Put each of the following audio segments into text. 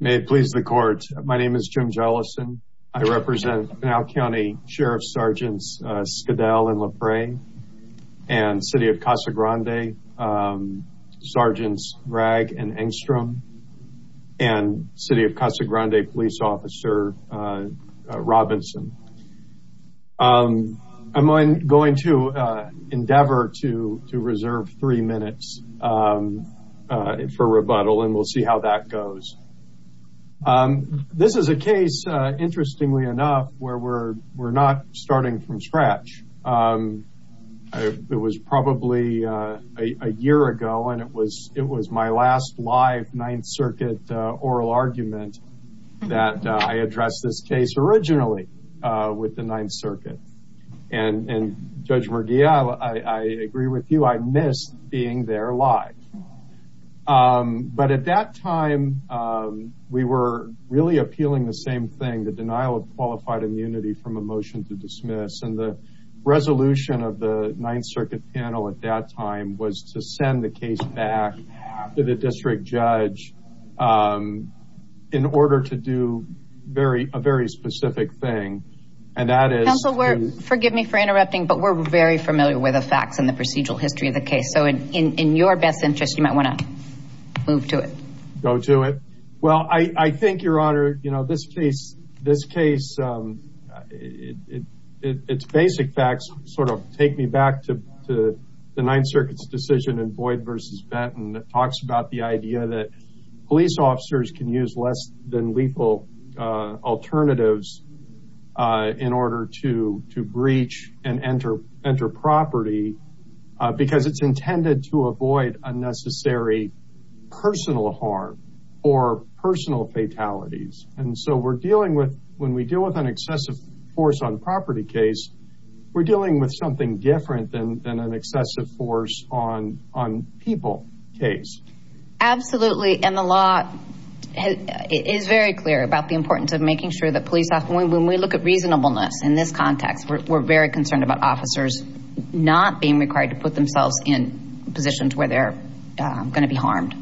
May it please the court. My name is Jim Jellison. I represent Pinal County Sheriff's Sergeants Skedell and Lepre, and City of Casa Grande Sergeants Ragg and Engstrom, and City of Casa Grande Police Officer Robinson. I'm going to endeavor to reserve three minutes for rebuttal, and we'll see how that goes. This is a case, interestingly enough, where we're not starting from scratch. It was probably a year ago, and it was my last live Ninth Circuit oral argument that I addressed this case originally with the Ninth Circuit. And Judge Murguia, I agree with you. I miss being there live. But at that time, we were really appealing the same thing, the denial of qualified immunity from a motion to dismiss, and the resolution of the Ninth Circuit panel at that time was to send the case back to the district judge in order to do a very specific thing, and that is- Counsel, forgive me for interrupting, but we're very familiar with the facts and the procedural history of the case. So in your best interest, you might want to move to it. Go to it. Well, I think, Your Honor, you know, this case, it's basic facts sort of take me back to the Ninth Circuit's decision in Boyd v. Benton that talks about the idea that police officers can use less than lethal alternatives in order to breach and enter property because it's intended to avoid unnecessary personal harm or personal fatalities. And so we're dealing with, when we deal with an excessive force on property case, we're dealing with something different than an excessive force on people case. Absolutely. And the law is very clear about the importance of making sure that police officers, when we look at reasonableness in this context, we're very concerned about officers not being required to put themselves in positions where they're going to be harmed.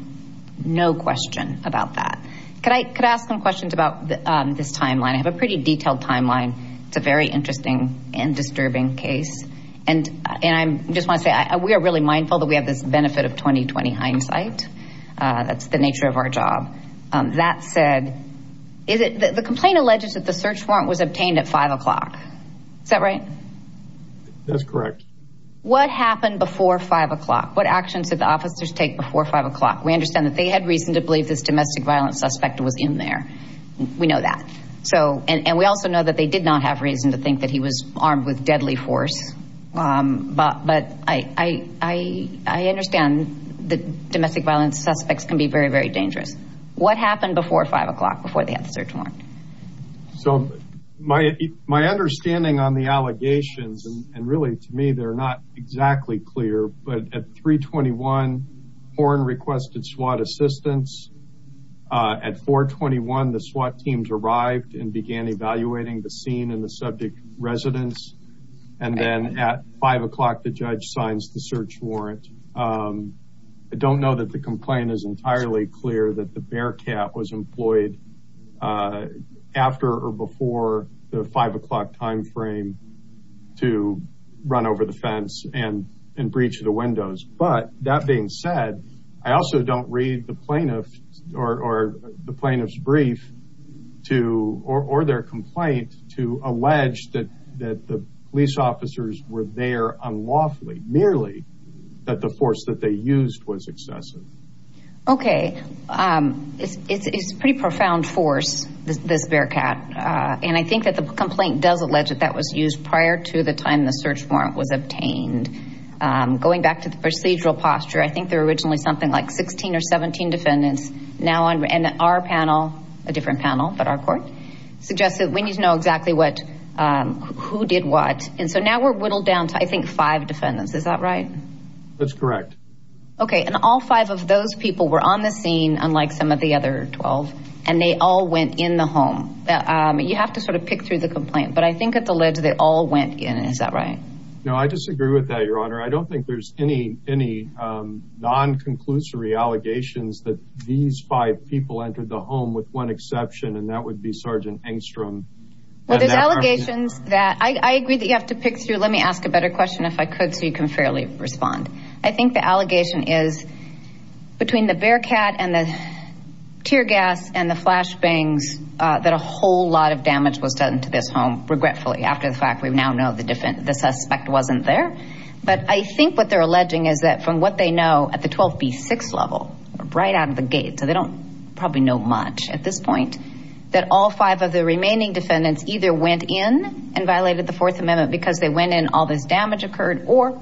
No question about that. Could I ask some questions about this timeline? I have a pretty detailed timeline. It's a very interesting and disturbing case. And I'm just want to say, we are really mindful that we have this benefit of 20-20 hindsight. That's the nature of our job. That said, the complaint alleges that the search warrant was obtained at five o'clock. Is that right? That's correct. What happened before five o'clock? What actions did the officers take before five o'clock? We understand that they had reason to believe this domestic violence suspect was in there. We know that. So, and we also know that they did not have reason to think that he was armed with deadly force. But I understand that domestic violence suspects can be very, very dangerous. What happened before five o'clock, before they had the search warrant? So my understanding on the allegations and really to me, they're not exactly clear, but at 321, Horne requested SWAT assistance. At 421, the SWAT teams arrived and began evaluating the scene and the subject residence. And then at five o'clock, the judge signs the search warrant. I don't know that the complaint is entirely clear that the after or before the five o'clock timeframe to run over the fence and breach the windows. But that being said, I also don't read the plaintiff or the plaintiff's brief to, or their complaint to allege that the police officers were there unlawfully, merely that the force that they used was excessive. Okay. It's pretty profound force, this Bearcat. And I think that the complaint does allege that that was used prior to the time the search warrant was obtained. Going back to the procedural posture, I think there were originally something like 16 or 17 defendants now on our panel, a different panel, but our court suggested we need to know exactly what, who did what, and so now we're whittled down to, I think, five defendants. Is that right? That's correct. Okay. And all five of those people were on the scene, unlike some of the other 12 and they all went in the home. You have to sort of pick through the complaint, but I think it's alleged that they all went in. Is that right? No, I disagree with that, Your Honor. I don't think there's any non-conclusory allegations that these five people entered the home with one exception, and that would be Sergeant Engstrom. Well, there's allegations that I agree that you have to pick through. Let me ask a better question if I could, so you can fairly respond. I think the allegation is between the Bearcat and the tear gas and the flash bangs, that a whole lot of damage was done to this home, regretfully, after the fact we now know the suspect wasn't there, but I think what they're alleging is that from what they know at the 12B6 level, right out of the gate, so they don't probably know much at this point, that all five of the remaining defendants either went in and violated the Fourth Amendment because they went in, all this damage occurred, or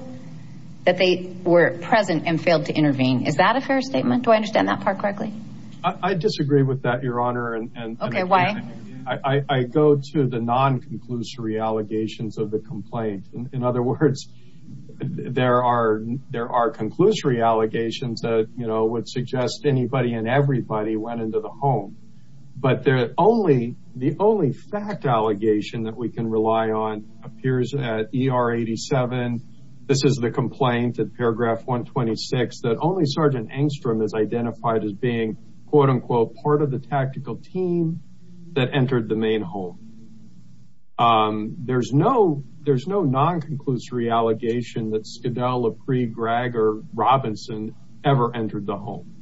that they were present and failed to intervene. Is that a fair statement? Do I understand that part correctly? I disagree with that, Your Honor. And I go to the non-conclusory allegations of the complaint. In other words, there are conclusory allegations that would suggest anybody and everybody went into the home, but the only fact allegation that we can rely on appears at ER 87, this is the complaint at paragraph 126, that only Sergeant Engstrom is identified as being, quote-unquote, part of the tactical team that entered the main home. There's no non-conclusory allegation that Skadel, LaPree, Greg, or Robinson ever entered the home.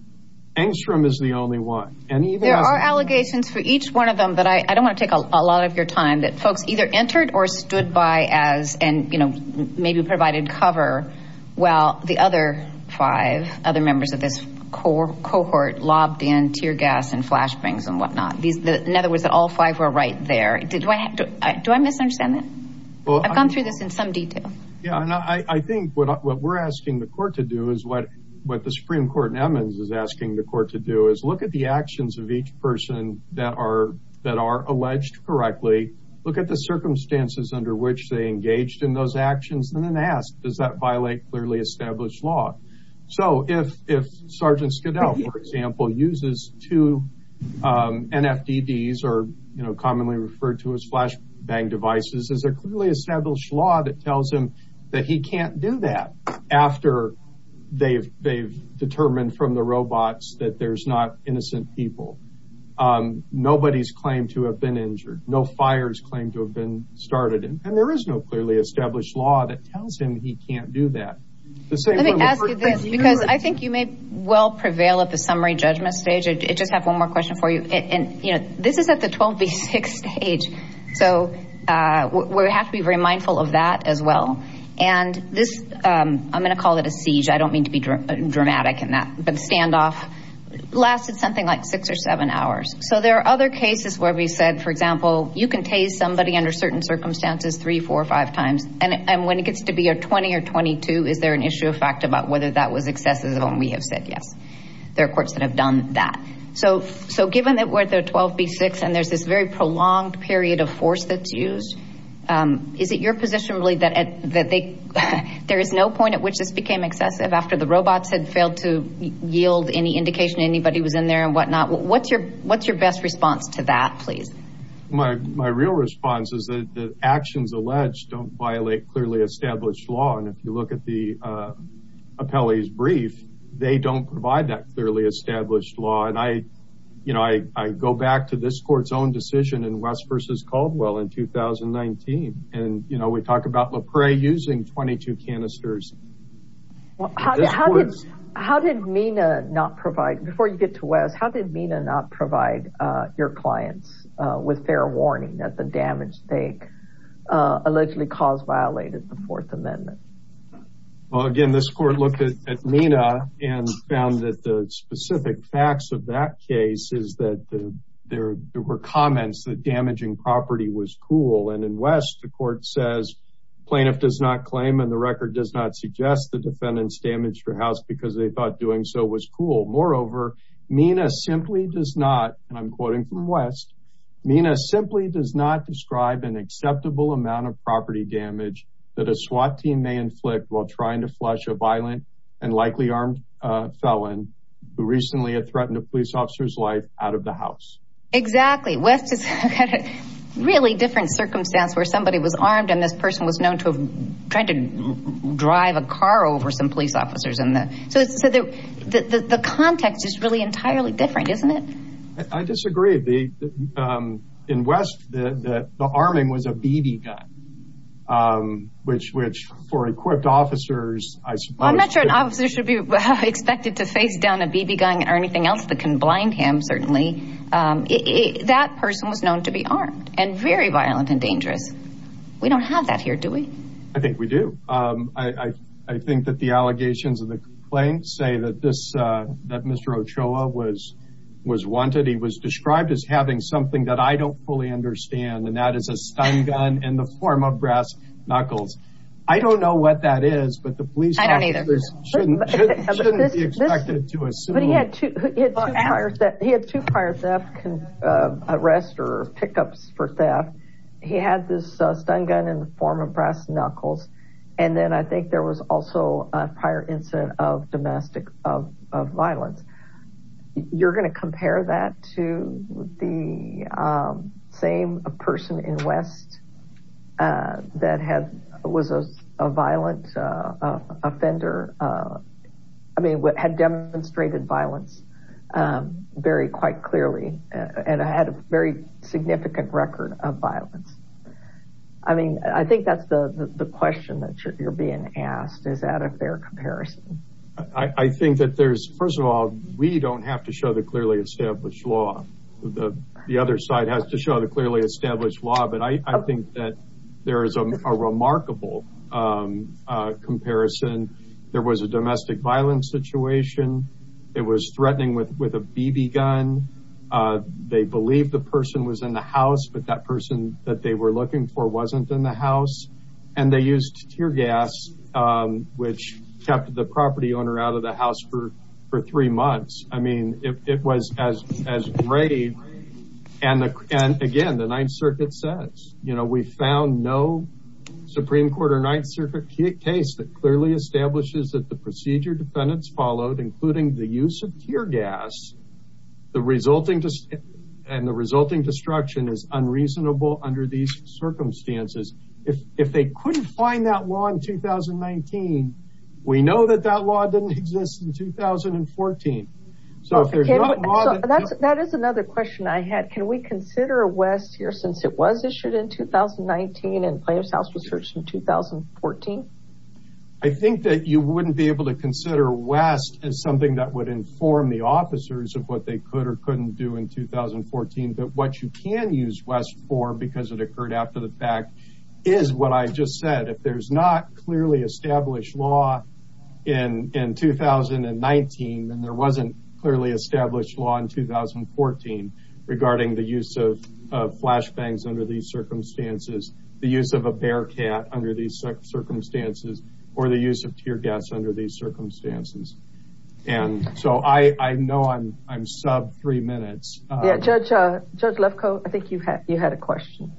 Engstrom is the only one. There are allegations for each one of them, but I don't want to take a lot of your time, that folks either entered or stood by as, and, you know, maybe provided cover while the other five, other members of this cohort, lobbed in tear gas and flash bangs and whatnot. In other words, that all five were right there. Do I misunderstand that? Well, I've gone through this in some detail. Yeah. And I think what we're asking the court to do is what the Supreme Court in Edmonds is asking the court to do is look at the actions of each person that are alleged correctly, look at the circumstances under which they engaged in those actions, and then ask, does that violate clearly established law? So if Sergeant Skadel, for example, uses two NFDDs or, you know, commonly referred to as flash bang devices, is there clearly established law that tells him that he can't do that after they've determined from the robots that there's not innocent people? Nobody's claimed to have been injured. No fires claimed to have been started. And there is no clearly established law that tells him he can't do that. Let me ask you this, because I think you may well prevail at the summary judgment stage. I just have one more question for you. And, you know, this is at the 12 v six stage. So we have to be very mindful of that as well. And this, I'm going to call it a siege. I don't mean to be dramatic in that, but the standoff lasted something like six or seven hours. So there are other cases where we said, for example, you can tase somebody under certain circumstances, three, four or five times, and when it gets to be a 20 or 22, is there an issue of fact about whether that was excessive when we have said yes? There are courts that have done that. So, given that we're at the 12 v six and there's this very prolonged period of force that's used, is it your position really that there is no point at which this became excessive after the robots had failed to yield any indication anybody was in there and whatnot, what's your best response to that? Please. My real response is that the actions alleged don't violate clearly established law. And if you look at the appellee's brief, they don't provide that clearly established law. And I, you know, I go back to this court's own decision in West versus Caldwell in 2019, and, you know, we talk about LaPrey using 22 canisters. Well, how did MENA not provide, before you get to Wes, how did MENA not provide your clients with fair warning that the damage they allegedly caused violated the fourth amendment? Well, again, this court looked at MENA and found that the specific facts of that case is that there were comments that damaging property was cool. And in West, the court says plaintiff does not claim and the record does not suggest the defendants damaged your house because they thought doing so was cool. Moreover, MENA simply does not, and I'm quoting from West, MENA simply does not describe an acceptable amount of property damage that a SWAT team may inflict while trying to flush a violent and likely armed felon who recently had threatened a police officer's life out of the house. Exactly. West is really different circumstance where somebody was armed and this person was known to have tried to drive a car over some police officers. And so the context is really entirely different, isn't it? I disagree. In West, the arming was a BB gun, which for equipped officers, I suppose- I'm not sure an officer should be expected to face down a BB gun or anything else that can blind him, certainly. That person was known to be armed and very violent and dangerous. We don't have that here, do we? I think we do. I think that the allegations of the claim say that this, that Mr. Ochoa was wanted. He was described as having something that I don't fully understand. And that is a stun gun in the form of brass knuckles. I don't know what that is, but the police shouldn't be expected to assume. But he had two prior theft arrests or pickups for theft. He had this stun gun in the form of brass knuckles. And then I think there was also a prior incident of domestic violence. You're going to compare that to the same person in West that had, was a violent offender. I mean, had demonstrated violence very, quite clearly, and had a very clear evidence of domestic violence. I mean, I think that's the question that you're being asked. Is that a fair comparison? I think that there's, first of all, we don't have to show the clearly established law, the other side has to show the clearly established law. But I think that there is a remarkable comparison. There was a domestic violence situation. It was threatening with a BB gun. They believed the person was in the house, but that person that they were looking for wasn't in the house. And they used tear gas, which kept the property owner out of the house for three months. I mean, it was as grave. And again, the Ninth Circuit says, you know, we found no Supreme Court or Ninth Circuit case that clearly establishes that the procedure defendants followed, including the use of tear gas, and the resulting destruction is unreasonable under these circumstances. If they couldn't find that law in 2019, we know that that law didn't exist in 2014. So if there's not a law that- That is another question I had. Can we consider West here since it was issued in 2019 and plaintiff's house was searched in 2014? I think that you wouldn't be able to consider West as something that would inform the officers of what they could or couldn't do in 2014, but what you can use West for, because it occurred after the fact, is what I just said. If there's not clearly established law in 2019, then there wasn't clearly established law in 2014 regarding the use of flashbangs under these circumstances, or the use of tear gas under these circumstances. And so I know I'm sub three minutes. Yeah. Judge Lefkoe, I think you had a question.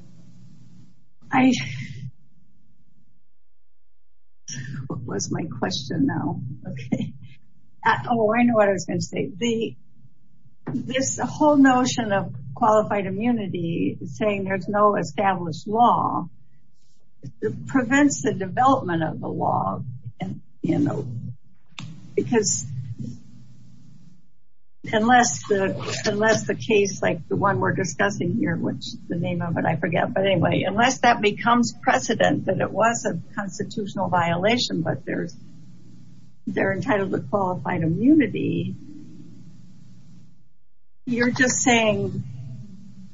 I- What was my question now? Okay. Oh, I know what I was going to say. This whole notion of qualified immunity saying there's no established law prevents the development of the law and, you know, because unless the, unless the case like the one we're discussing here, which the name of it, I forget. But anyway, unless that becomes precedent that it was a constitutional violation, but there's, they're entitled to qualified immunity, you're just saying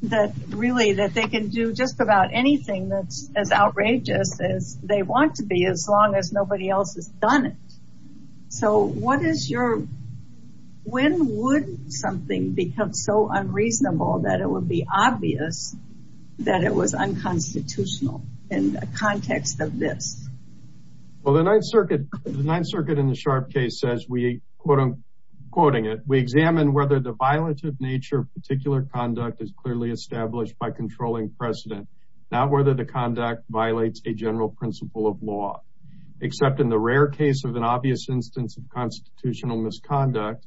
that really that they can do just about anything that's as outrageous as they want to be, as long as nobody else has done it. So what is your, when would something become so unreasonable that it would be obvious that it was unconstitutional in the context of this? Well, the ninth circuit, the ninth circuit in the sharp case says we quote, quoting it, we examine whether the violative nature of particular conduct is clearly established by controlling precedent, not whether the conduct violates a general principle of law, except in the rare case of an obvious instance of constitutional misconduct,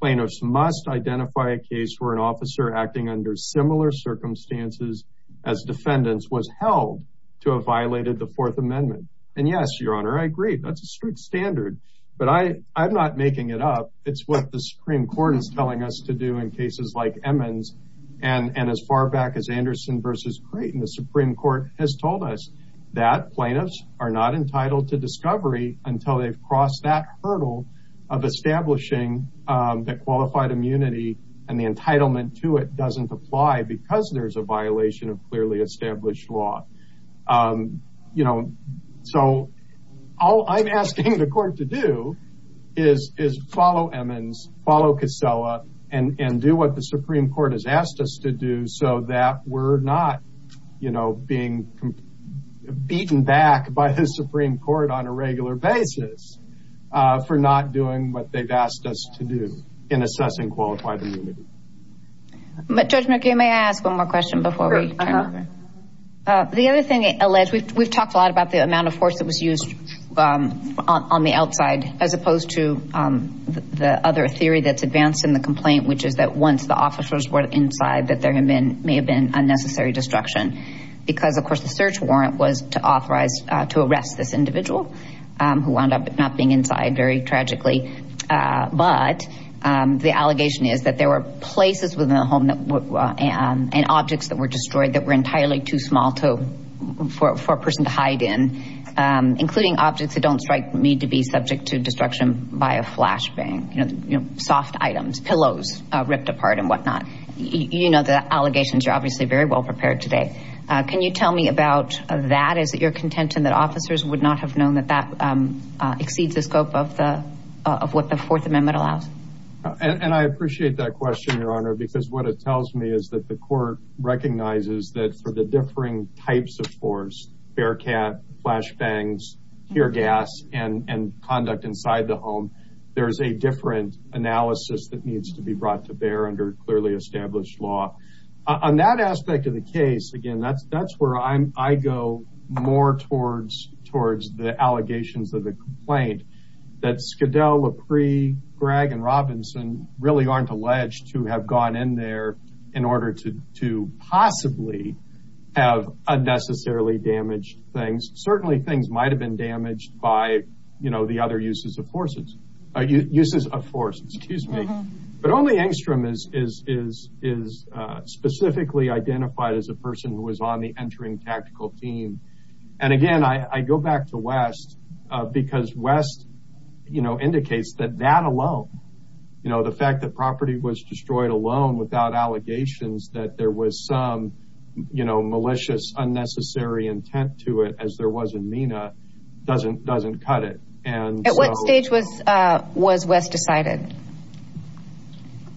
plaintiffs must identify a case where an officer acting under similar circumstances as defendants was held to have violated the fourth amendment. And yes, your honor, I agree. That's a strict standard, but I, I'm not making it up. It's what the Supreme court is telling us to do in cases like Emmons and, and as far back as Anderson versus Creighton, the Supreme court has told us that plaintiffs are not entitled to discovery until they've crossed that hurdle of establishing that qualified immunity and the entitlement to it doesn't apply because there's a violation of clearly established law. Um, you know, so all I'm asking the court to do is, is follow Emmons, follow Kosella, and, and do what the Supreme court has asked us to do so that we're not, you know, being beaten back by the Supreme court on a regular basis, uh, for not doing what they've asked us to do in assessing qualified immunity. But Judge McKay, may I ask one more question before we turn? Uh, the other thing alleged, we've, we've talked a lot about the amount of force that was used, um, on the outside, as opposed to, um, the other theory that's advanced in the complaint, which is that once the officers were inside, that there had been, may have been unnecessary destruction because of course, the search warrant was to authorize, uh, to arrest this individual. Um, who wound up not being inside very tragically. Uh, but, um, the allegation is that there were places within the home that were, um, and objects that were destroyed that were entirely too small to, for, for a person to hide in, um, including objects that don't strike me to be subject to destruction by a flash bang, you know, soft items, pillows, uh, ripped apart and whatnot, you know, the allegations are obviously very well prepared today. Uh, can you tell me about that? Is it your contention that officers would not have known that that, um, uh, exceeds the scope of the, uh, of what the fourth amendment allows? And I appreciate that question, Your Honor, because what it tells me is that the court recognizes that for the differing types of force, bear cat, flash bangs, tear gas, and, and conduct inside the home, there's a different analysis that needs to be brought to bear under clearly established law. Uh, on that aspect of the case, again, that's, that's where I'm, I go more towards, towards the allegations of the complaint that Skadel, LaPree, Gregg, and Robinson really aren't alleged to have gone in there in order to, to possibly have unnecessarily damaged things. Certainly things might've been damaged by, you know, the other uses of forces, uh, uses of force, excuse me, but only Engstrom is, is, is, is, uh, specifically identified as a person who was on the entering tactical team. And again, I, I go back to West, uh, because West, you know, indicates that that alone, you know, the fact that property was destroyed alone without allegations, that there was some, you know, malicious, unnecessary intent to it as there was in MENA doesn't, doesn't cut it. And so- At what stage was, uh, was West decided?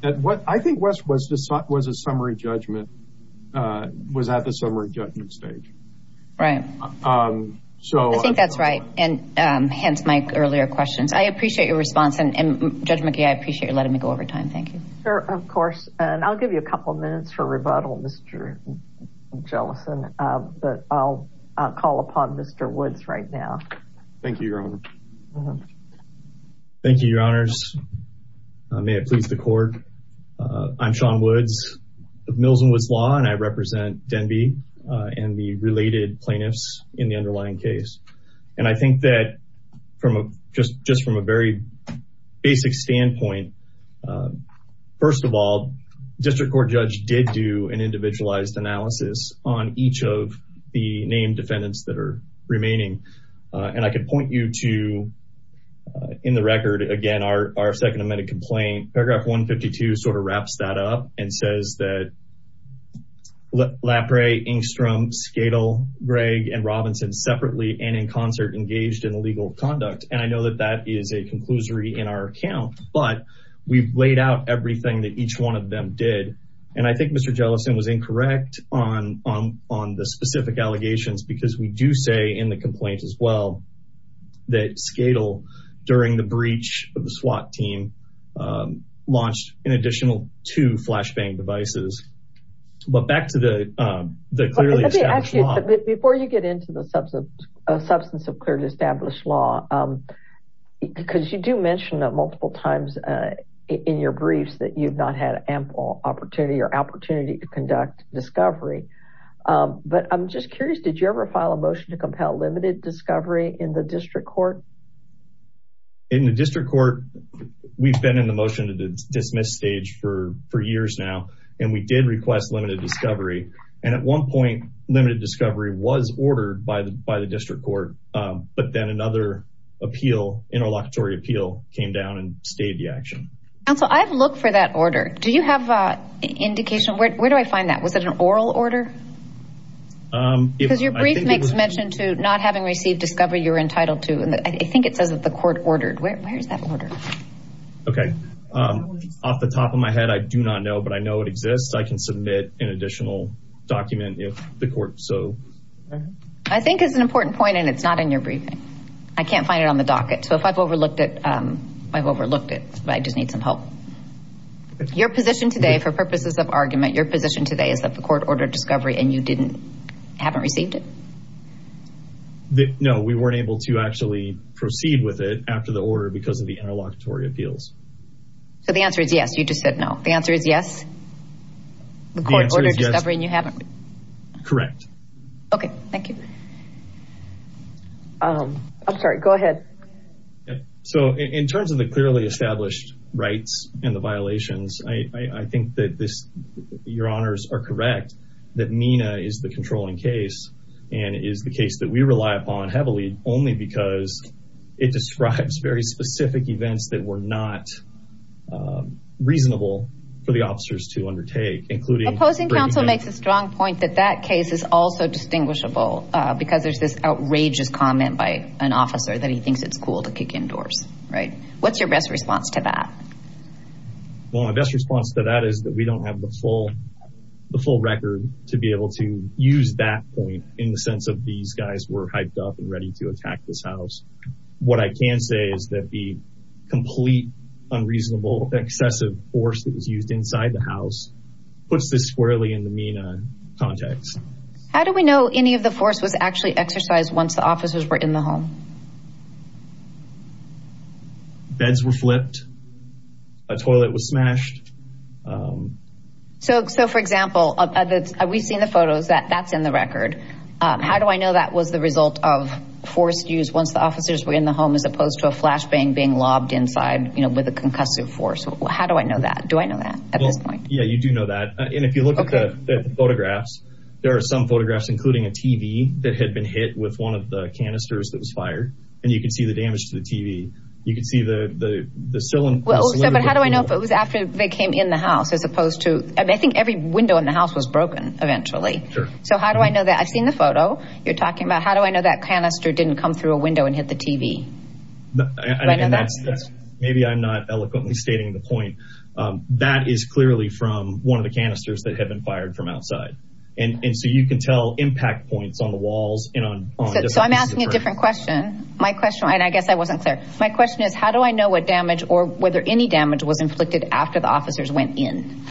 At what, I think West was, was a summary judgment, uh, was at the summary judgment stage. Right. Um, so- I think that's right. And, um, hence my earlier questions. I appreciate your response and Judge McGee, I appreciate you letting me go over time. Thank you. Sure. Of course. And I'll give you a couple of minutes for rebuttal, Mr. Jellison, but I'll call upon Mr. Woods right now. Thank you, Your Honor. Thank you, Your Honors. May it please the court. Uh, I'm Sean Woods of Mills and Woods Law, and I represent Denby, uh, and the related plaintiffs in the underlying case. And I think that from a, just, just from a very basic standpoint, uh, first of all, district court judge did do an individualized analysis on each of the named defendants that are remaining. Uh, and I could point you to, uh, in the record, again, our, our second amended complaint, paragraph 152 sort of wraps that up and says that Lapre, Engstrom, Skadel, Gregg, and Robinson separately and in concert engaged in illegal conduct. And I know that that is a conclusory in our account, but we've laid out everything that each one of them did. And I think Mr. Jellison was incorrect on, on, on the specific allegations, because we do say in the complaint as well, that Skadel during the breach of the SWAT team, um, launched an additional two flashbang devices, but back to the, um, the clearly established law. But before you get into the substance of clearly established law, um, because you do mention that multiple times, uh, in your briefs that you've not had ample opportunity or opportunity to conduct discovery, um, but I'm just curious. Did you ever file a motion to compel limited discovery in the district court? In the district court, we've been in the motion to dismiss stage for, for years now, and we did request limited discovery. And at one point limited discovery was ordered by the, by the district court. Um, but then another appeal, interlocutory appeal came down and stayed the action. Counsel, I've looked for that order. Do you have a indication? Where, where do I find that? Was it an oral order? Um, because your brief makes mention to not having received discovery you're entitled to. I think it says that the court ordered. Where, where is that order? Okay. Um, off the top of my head, I do not know, but I know it exists. I can submit an additional document if the court so. I think it's an important point and it's not in your briefing. I can't find it on the docket. So if I've overlooked it, um, I've overlooked it, but I just need some help. Your position today for purposes of argument, your position today is that the court ordered discovery and you didn't, haven't received it? That no, we weren't able to actually proceed with it after the order because of the interlocutory appeals. So the answer is yes. You just said no. The answer is yes. The court ordered discovery and you haven't. Correct. Okay. Thank you. Um, I'm sorry. Go ahead. So in terms of the clearly established rights and the violations, I, I think that this, your honors are correct. That MENA is the controlling case and is the case that we rely upon heavily only because it describes very specific events that were not, um, reasonable for the officers to undertake, including- Opposing counsel makes a strong point that that case is also distinguishable, uh, because there's this outrageous comment by an officer that he thinks it's cool to kick indoors. Right. What's your best response to that? Well, my best response to that is that we don't have the full, the full record to be able to use that point in the sense of these guys were hyped up and ready to attack this house. What I can say is that the complete, unreasonable, excessive force that was used inside the house puts this squarely in the MENA context. How do we know any of the force was actually exercised once the officers were in the home? Beds were flipped. A toilet was smashed. Um, So, so for example, uh, we've seen the photos that that's in the record. Um, how do I know that was the result of forced use once the officers were in the home, as opposed to a flashbang being lobbed inside, you know, with a concussive force, how do I know that? Do I know that at this point? Yeah, you do know that. And if you look at the photographs, there are some photographs, including a TV that had been hit with one of the canisters that was fired, and you can see the damage to the TV. You can see the, the, the cylinder- came in the house, as opposed to, I think every window in the house was broken eventually. So how do I know that? I've seen the photo you're talking about. How do I know that canister didn't come through a window and hit the TV? Maybe I'm not eloquently stating the point. Um, that is clearly from one of the canisters that had been fired from outside. And, and so you can tell impact points on the walls and on. So I'm asking a different question. My question, and I guess I wasn't clear. My question is how do I know what damage or whether any damage was inflicted after the officers went in?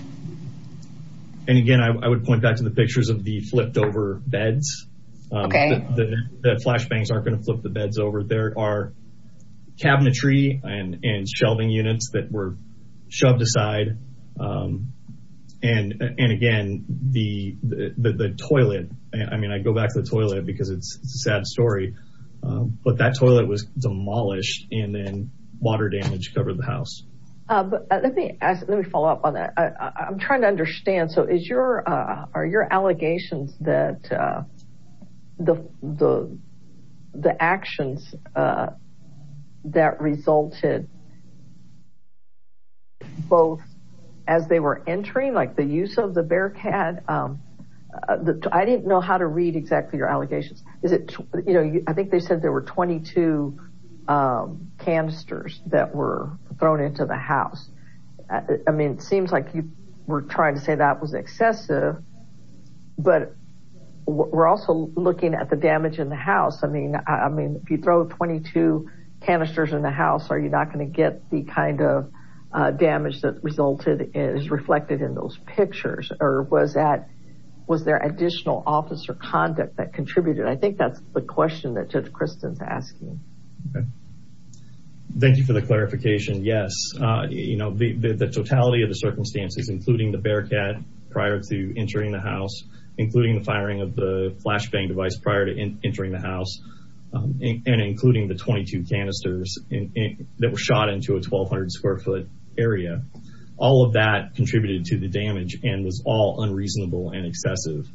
And again, I would point back to the pictures of the flipped over beds. Um, the flashbangs aren't going to flip the beds over. There are cabinetry and shelving units that were shoved aside. Um, and, and again, the, the toilet, I mean, I go back to the toilet because it's a sad story. Um, but that toilet was demolished and then water damage covered the house. Uh, but let me ask, let me follow up on that. I I'm trying to understand. So is your, uh, are your allegations that, uh, the, the, the actions, uh, that resulted both as they were entering, like the use of the bearcat, um, uh, the, I didn't know how to read exactly your allegations. Is it, you know, I think they said there were 22, um, canisters that were thrown into the house, uh, I mean, it seems like you were trying to say that was excessive, but we're also looking at the damage in the house. I mean, I mean, if you throw 22 canisters in the house, are you not going to get the kind of, uh, damage that resulted is reflected in those pictures or was that, was there additional officer conduct that contributed? I think that's the question that Judge Kristen's asking. Okay. Thank you for the clarification. Yes. Uh, you know, the, the, the totality of the circumstances, including the bearcat prior to entering the house, including the firing of the flashbang device prior to entering the house, um, and including the 22 canisters that were shot into a 1200 square foot area, all of that contributed to the damage and was all unreasonable and excessive.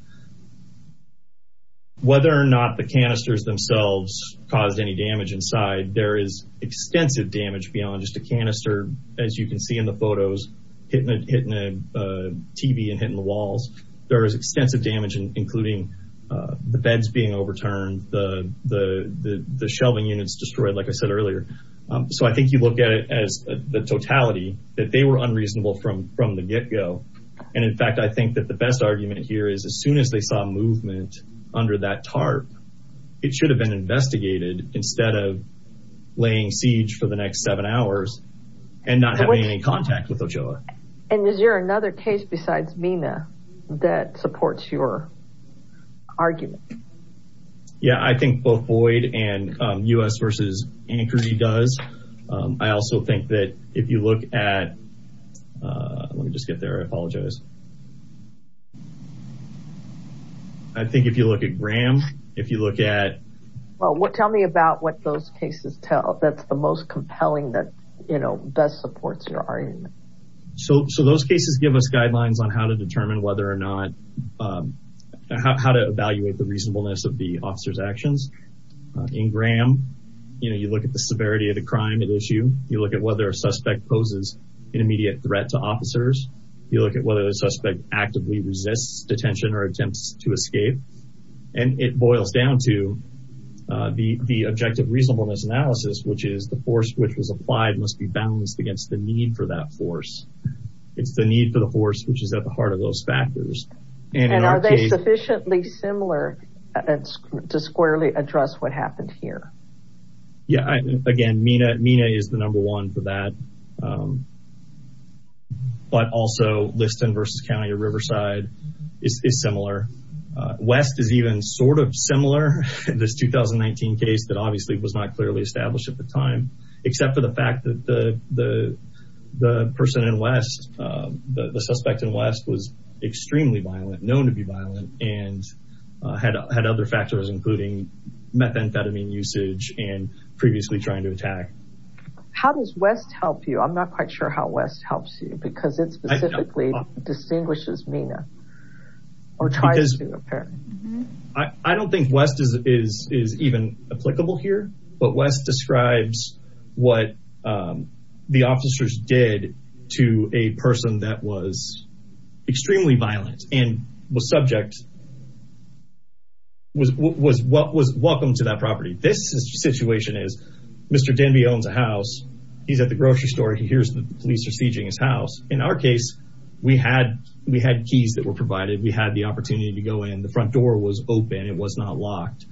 Whether or not the canisters themselves caused any damage inside, there is canister, as you can see in the photos, hitting a, hitting a TV and hitting the walls, there is extensive damage, including, uh, the beds being overturned. The, the, the, the shelving units destroyed, like I said earlier. Um, so I think you look at it as the totality that they were unreasonable from, from the get go. And in fact, I think that the best argument here is as soon as they saw movement under that tarp, it should have been investigated instead of laying siege for the next seven hours and not having any contact with Ochoa. And is there another case besides MENA that supports your argument? Yeah, I think both Boyd and, um, US versus Anchorage does. Um, I also think that if you look at, uh, let me just get there. I apologize. I think if you look at Graham, if you look at... Well, what, tell me about what those cases tell. That's the most compelling that, you know, best supports your argument. So, so those cases give us guidelines on how to determine whether or not, um, how to evaluate the reasonableness of the officer's actions, uh, in Graham, you know, you look at the severity of the crime at issue, you look at whether a suspect poses an immediate threat to officers. You look at whether the suspect actively resists detention or attempts to escape. And it boils down to, uh, the, the objective reasonableness analysis, which is the force which was applied must be balanced against the need for that force. It's the need for the force, which is at the heart of those factors. And are they sufficiently similar to squarely address what happened here? Yeah, again, MENA, MENA is the number one for that. Um, but also Liston versus County of Riverside is similar. Uh, West is even sort of similar, this 2019 case that obviously was not clearly established at the time, except for the fact that the, the, the person in West, uh, the suspect in West was extremely violent, known to be violent and, uh, had, had other factors, including methamphetamine usage and previously trying to attack. How does West help you? I'm not quite sure how West helps you because it's specifically distinguishes MENA or tries to, apparently. I don't think West is, is, is even applicable here, but West describes what, um, the officers did to a person that was extremely violent and was subject, was, was, was welcome to that property. This situation is, Mr. Danby owns a house. He's at the grocery store. He hears the police are sieging his house. In our case, we had, we had keys that were provided. We had the opportunity to go in. The front door was open. It was not locked.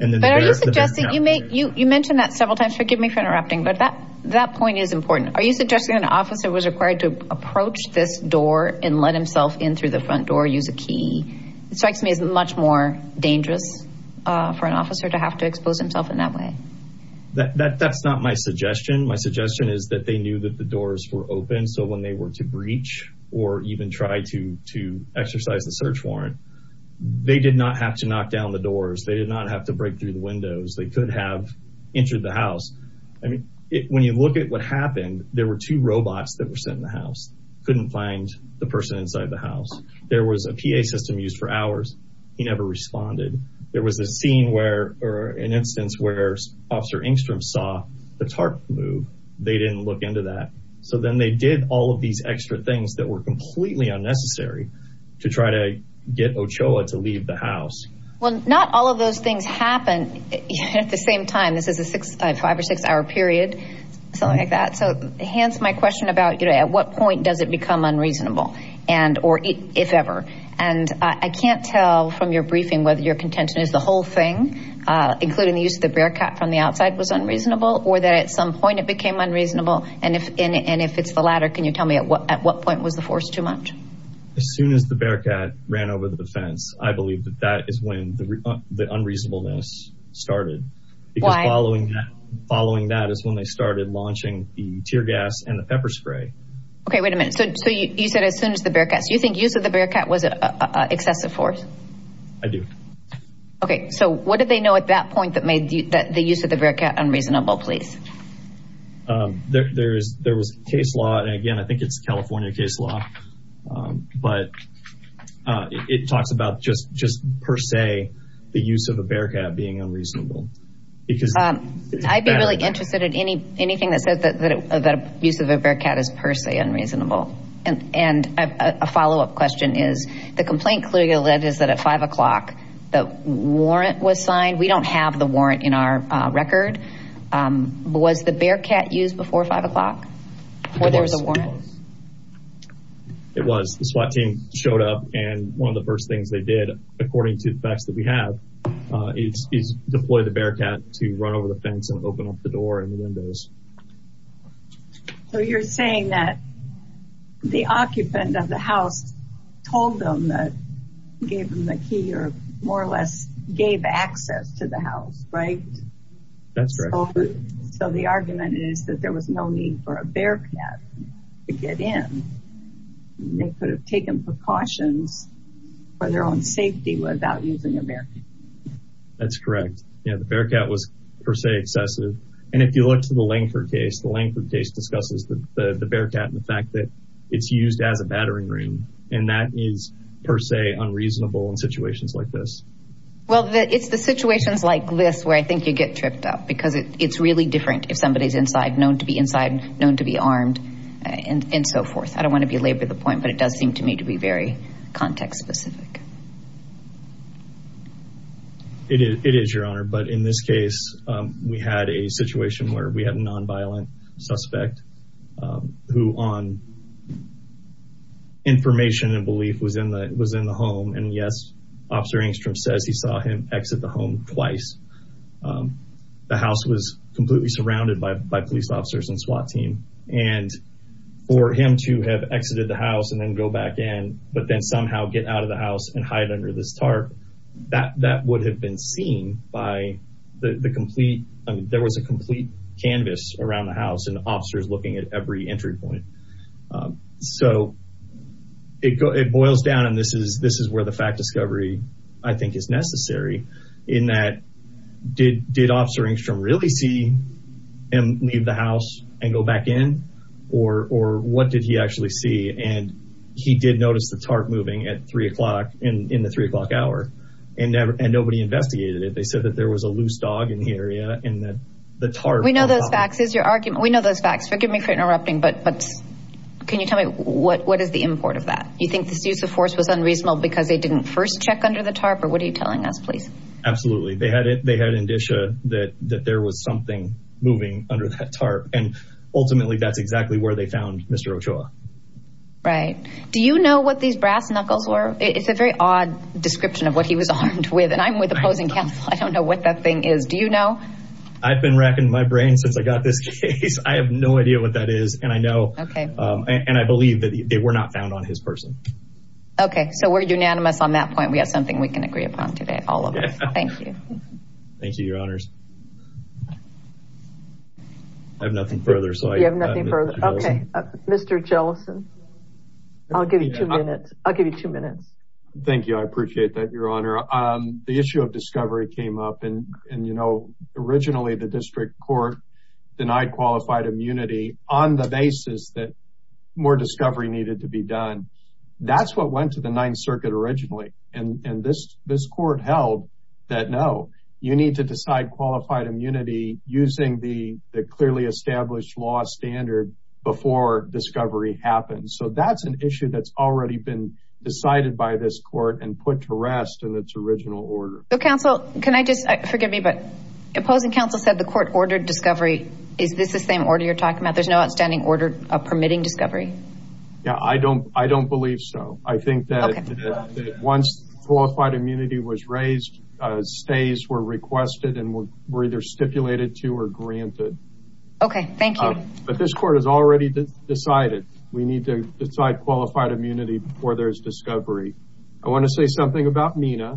And then- But are you suggesting, you make, you, you mentioned that several times, forgive me for interrupting, but that, that point is important. Are you suggesting an officer was required to approach this door and let himself in through the front door, use a key, it strikes me as much more dangerous, uh, for an officer to have to expose himself in that way. That, that, that's not my suggestion. My suggestion is that they knew that the doors were open. So when they were to breach or even try to, to exercise the search warrant, they did not have to knock down the doors. They did not have to break through the windows. They could have entered the house. I mean, when you look at what happened, there were two robots that were sitting in the house, couldn't find the person inside the house. There was a PA system used for hours. He never responded. There was a scene where, or an instance where Officer Engstrom saw the tarp move, they didn't look into that. So then they did all of these extra things that were completely unnecessary to try to get Ochoa to leave the house. Well, not all of those things happen at the same time. This is a six, five or six hour period, something like that. So Hans, my question about, you know, at what point does it become unreasonable and, or if ever, and I can't tell from your briefing, whether your contention is the whole thing, including the use of the Bearcat from the outside was unreasonable or that at some point it became unreasonable and if, and if it's the latter, can you tell me at what, at what point was the force too much? As soon as the Bearcat ran over the fence, I believe that that is when the, the unreasonableness started. Because following that, following that is when they started launching the tear gas and the pepper spray. Okay. Wait a minute. So, so you said as soon as the Bearcat, so you think use of the Bearcat was an excessive force? I do. Okay. So what did they know at that point that made you, that the use of the Bearcat unreasonable, please? Um, there, there's, there was case law. And again, I think it's California case law. Um, but, uh, it talks about just, just per se, the use of a Bearcat being unreasonable. Because, um, I'd be really interested in any, anything that says that, that, that use of a Bearcat is per se unreasonable. And, and a follow-up question is the complaint clearly led is that at five o'clock, the warrant was signed. We don't have the warrant in our record. Um, was the Bearcat used before five o'clock or there was a warrant? It was. The SWAT team showed up and one of the first things they did, according to the facts that we have, uh, is, is deploy the Bearcat to run over the fence and open up the door and the windows. And the key or more or less gave access to the house, right? That's right. So the argument is that there was no need for a Bearcat to get in. They could have taken precautions for their own safety without using a Bearcat. That's correct. Yeah. The Bearcat was per se excessive. And if you look to the Lankford case, the Lankford case discusses the, the, the Bearcat and the fact that it's used as a battering room and that is per se unreasonable in situations like this. Well, it's the situations like this where I think you get tripped up because it, it's really different if somebody is inside, known to be inside, known to be armed and so forth. I don't want to belabor the point, but it does seem to me to be very context specific. It is, it is, Your Honor. But in this case, um, we had a situation where we had a non-violent suspect, um, who on information and belief was in the, was in the home. And yes, Officer Engstrom says he saw him exit the home twice. Um, the house was completely surrounded by, by police officers and SWAT team. And for him to have exited the house and then go back in, but then somehow get out of the house and hide under this tarp, that, that would have been seen by the complete, I mean, there was a complete canvas around the house and officers looking at every entry point. Um, so it goes, it boils down and this is, this is where the fact discovery I think is necessary in that did, did Officer Engstrom really see him leave the house and go back in or, or what did he actually see? And he did notice the tarp moving at three o'clock in, in the three o'clock hour and never, and nobody investigated it. They said that there was a loose dog in the area and that the tarp... We know those facts. It's your argument. We know those facts, forgive me for interrupting, but, but can you tell me what, what is the import of that? You think this use of force was unreasonable because they didn't first check under the tarp or what are you telling us, please? Absolutely. They had it, they had an indicia that, that there was something moving under that tarp and ultimately that's exactly where they found Mr. Ochoa. Right. Do you know what these brass knuckles were? It's a very odd description of what he was armed with. And I'm with opposing counsel. I don't know what that thing is. Do you know? I've been racking my brain since I got this case. I have no idea what that is. And I know, and I believe that they were not found on his person. Okay. So we're unanimous on that point. We have something we can agree upon today. All of us. Thank you. Thank you, your honors. I have nothing further. So I have nothing further. Okay. Mr. Jellison, I'll give you two minutes. I'll give you two minutes. Thank you. I appreciate that, your honor. The issue of discovery came up and, and, you know, originally the district court denied qualified immunity on the basis that more discovery needed to be done. That's what went to the ninth circuit originally. And this, this court held that, no, you need to decide qualified immunity using the clearly established law standard before discovery happens. So that's an issue that's already been decided by this court and put to rest. And it's original order. So counsel, can I just, forgive me, but opposing counsel said the court ordered discovery. Is this the same order you're talking about? There's no outstanding order permitting discovery. Yeah, I don't, I don't believe so. I think that once qualified immunity was raised, stays were requested and were either stipulated to or granted. Okay. Thank you. But this court has already decided we need to decide qualified immunity before there's discovery. I want to say something about MENA.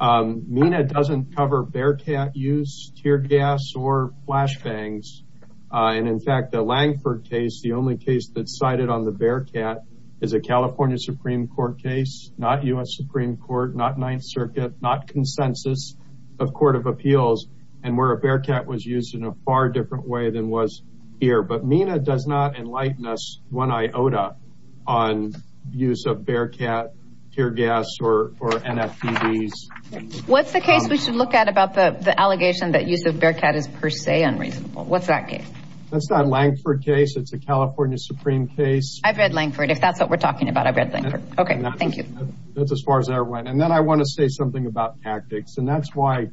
MENA doesn't cover Bearcat use, tear gas, or flashbangs. And in fact, the Langford case, the only case that's cited on the Bearcat is a California Supreme court case, not US Supreme court, not ninth circuit, not consensus of court of appeals and where a Bearcat was used in a far different way than was here. But MENA does not enlighten us one iota on use of Bearcat, tear gas, or NFPDs. What's the case we should look at about the allegation that use of Bearcat is per se unreasonable? What's that case? That's not a Langford case. It's a California Supreme case. I've read Langford. If that's what we're talking about, I've read Langford. Okay. Thank you. That's as far as I went. And then I want to say something about tactics and that's why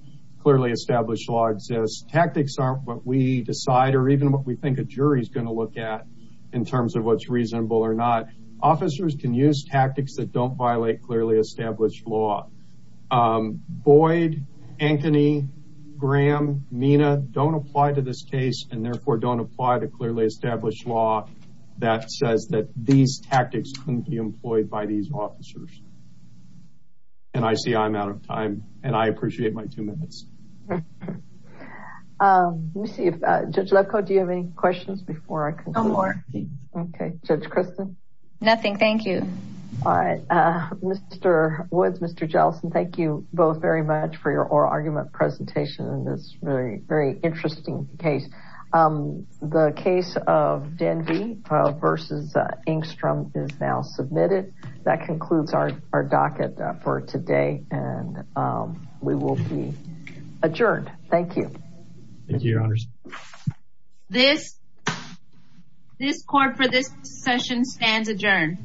clearly established law exists. Tactics aren't what we decide or even what we think a jury is going to look at in terms of what's reasonable or not. Officers can use tactics that don't violate clearly established law. Boyd, Ankeny, Graham, MENA don't apply to this case and therefore don't apply to clearly established law that says that these tactics couldn't be employed by these officers. And I see I'm out of time and I appreciate my two minutes. Let me see if Judge Lefkoe, do you have any questions before I conclude? No more. Okay. Judge Christin? Nothing. Thank you. All right. Mr. Woods, Mr. Jellison, thank you both very much for your oral argument presentation in this very, very interesting case. The case of Denvey versus Engstrom is now submitted. That concludes our docket for today and we will be adjourned. Thank you. Thank you, Your Honors. This court for this session stands adjourned.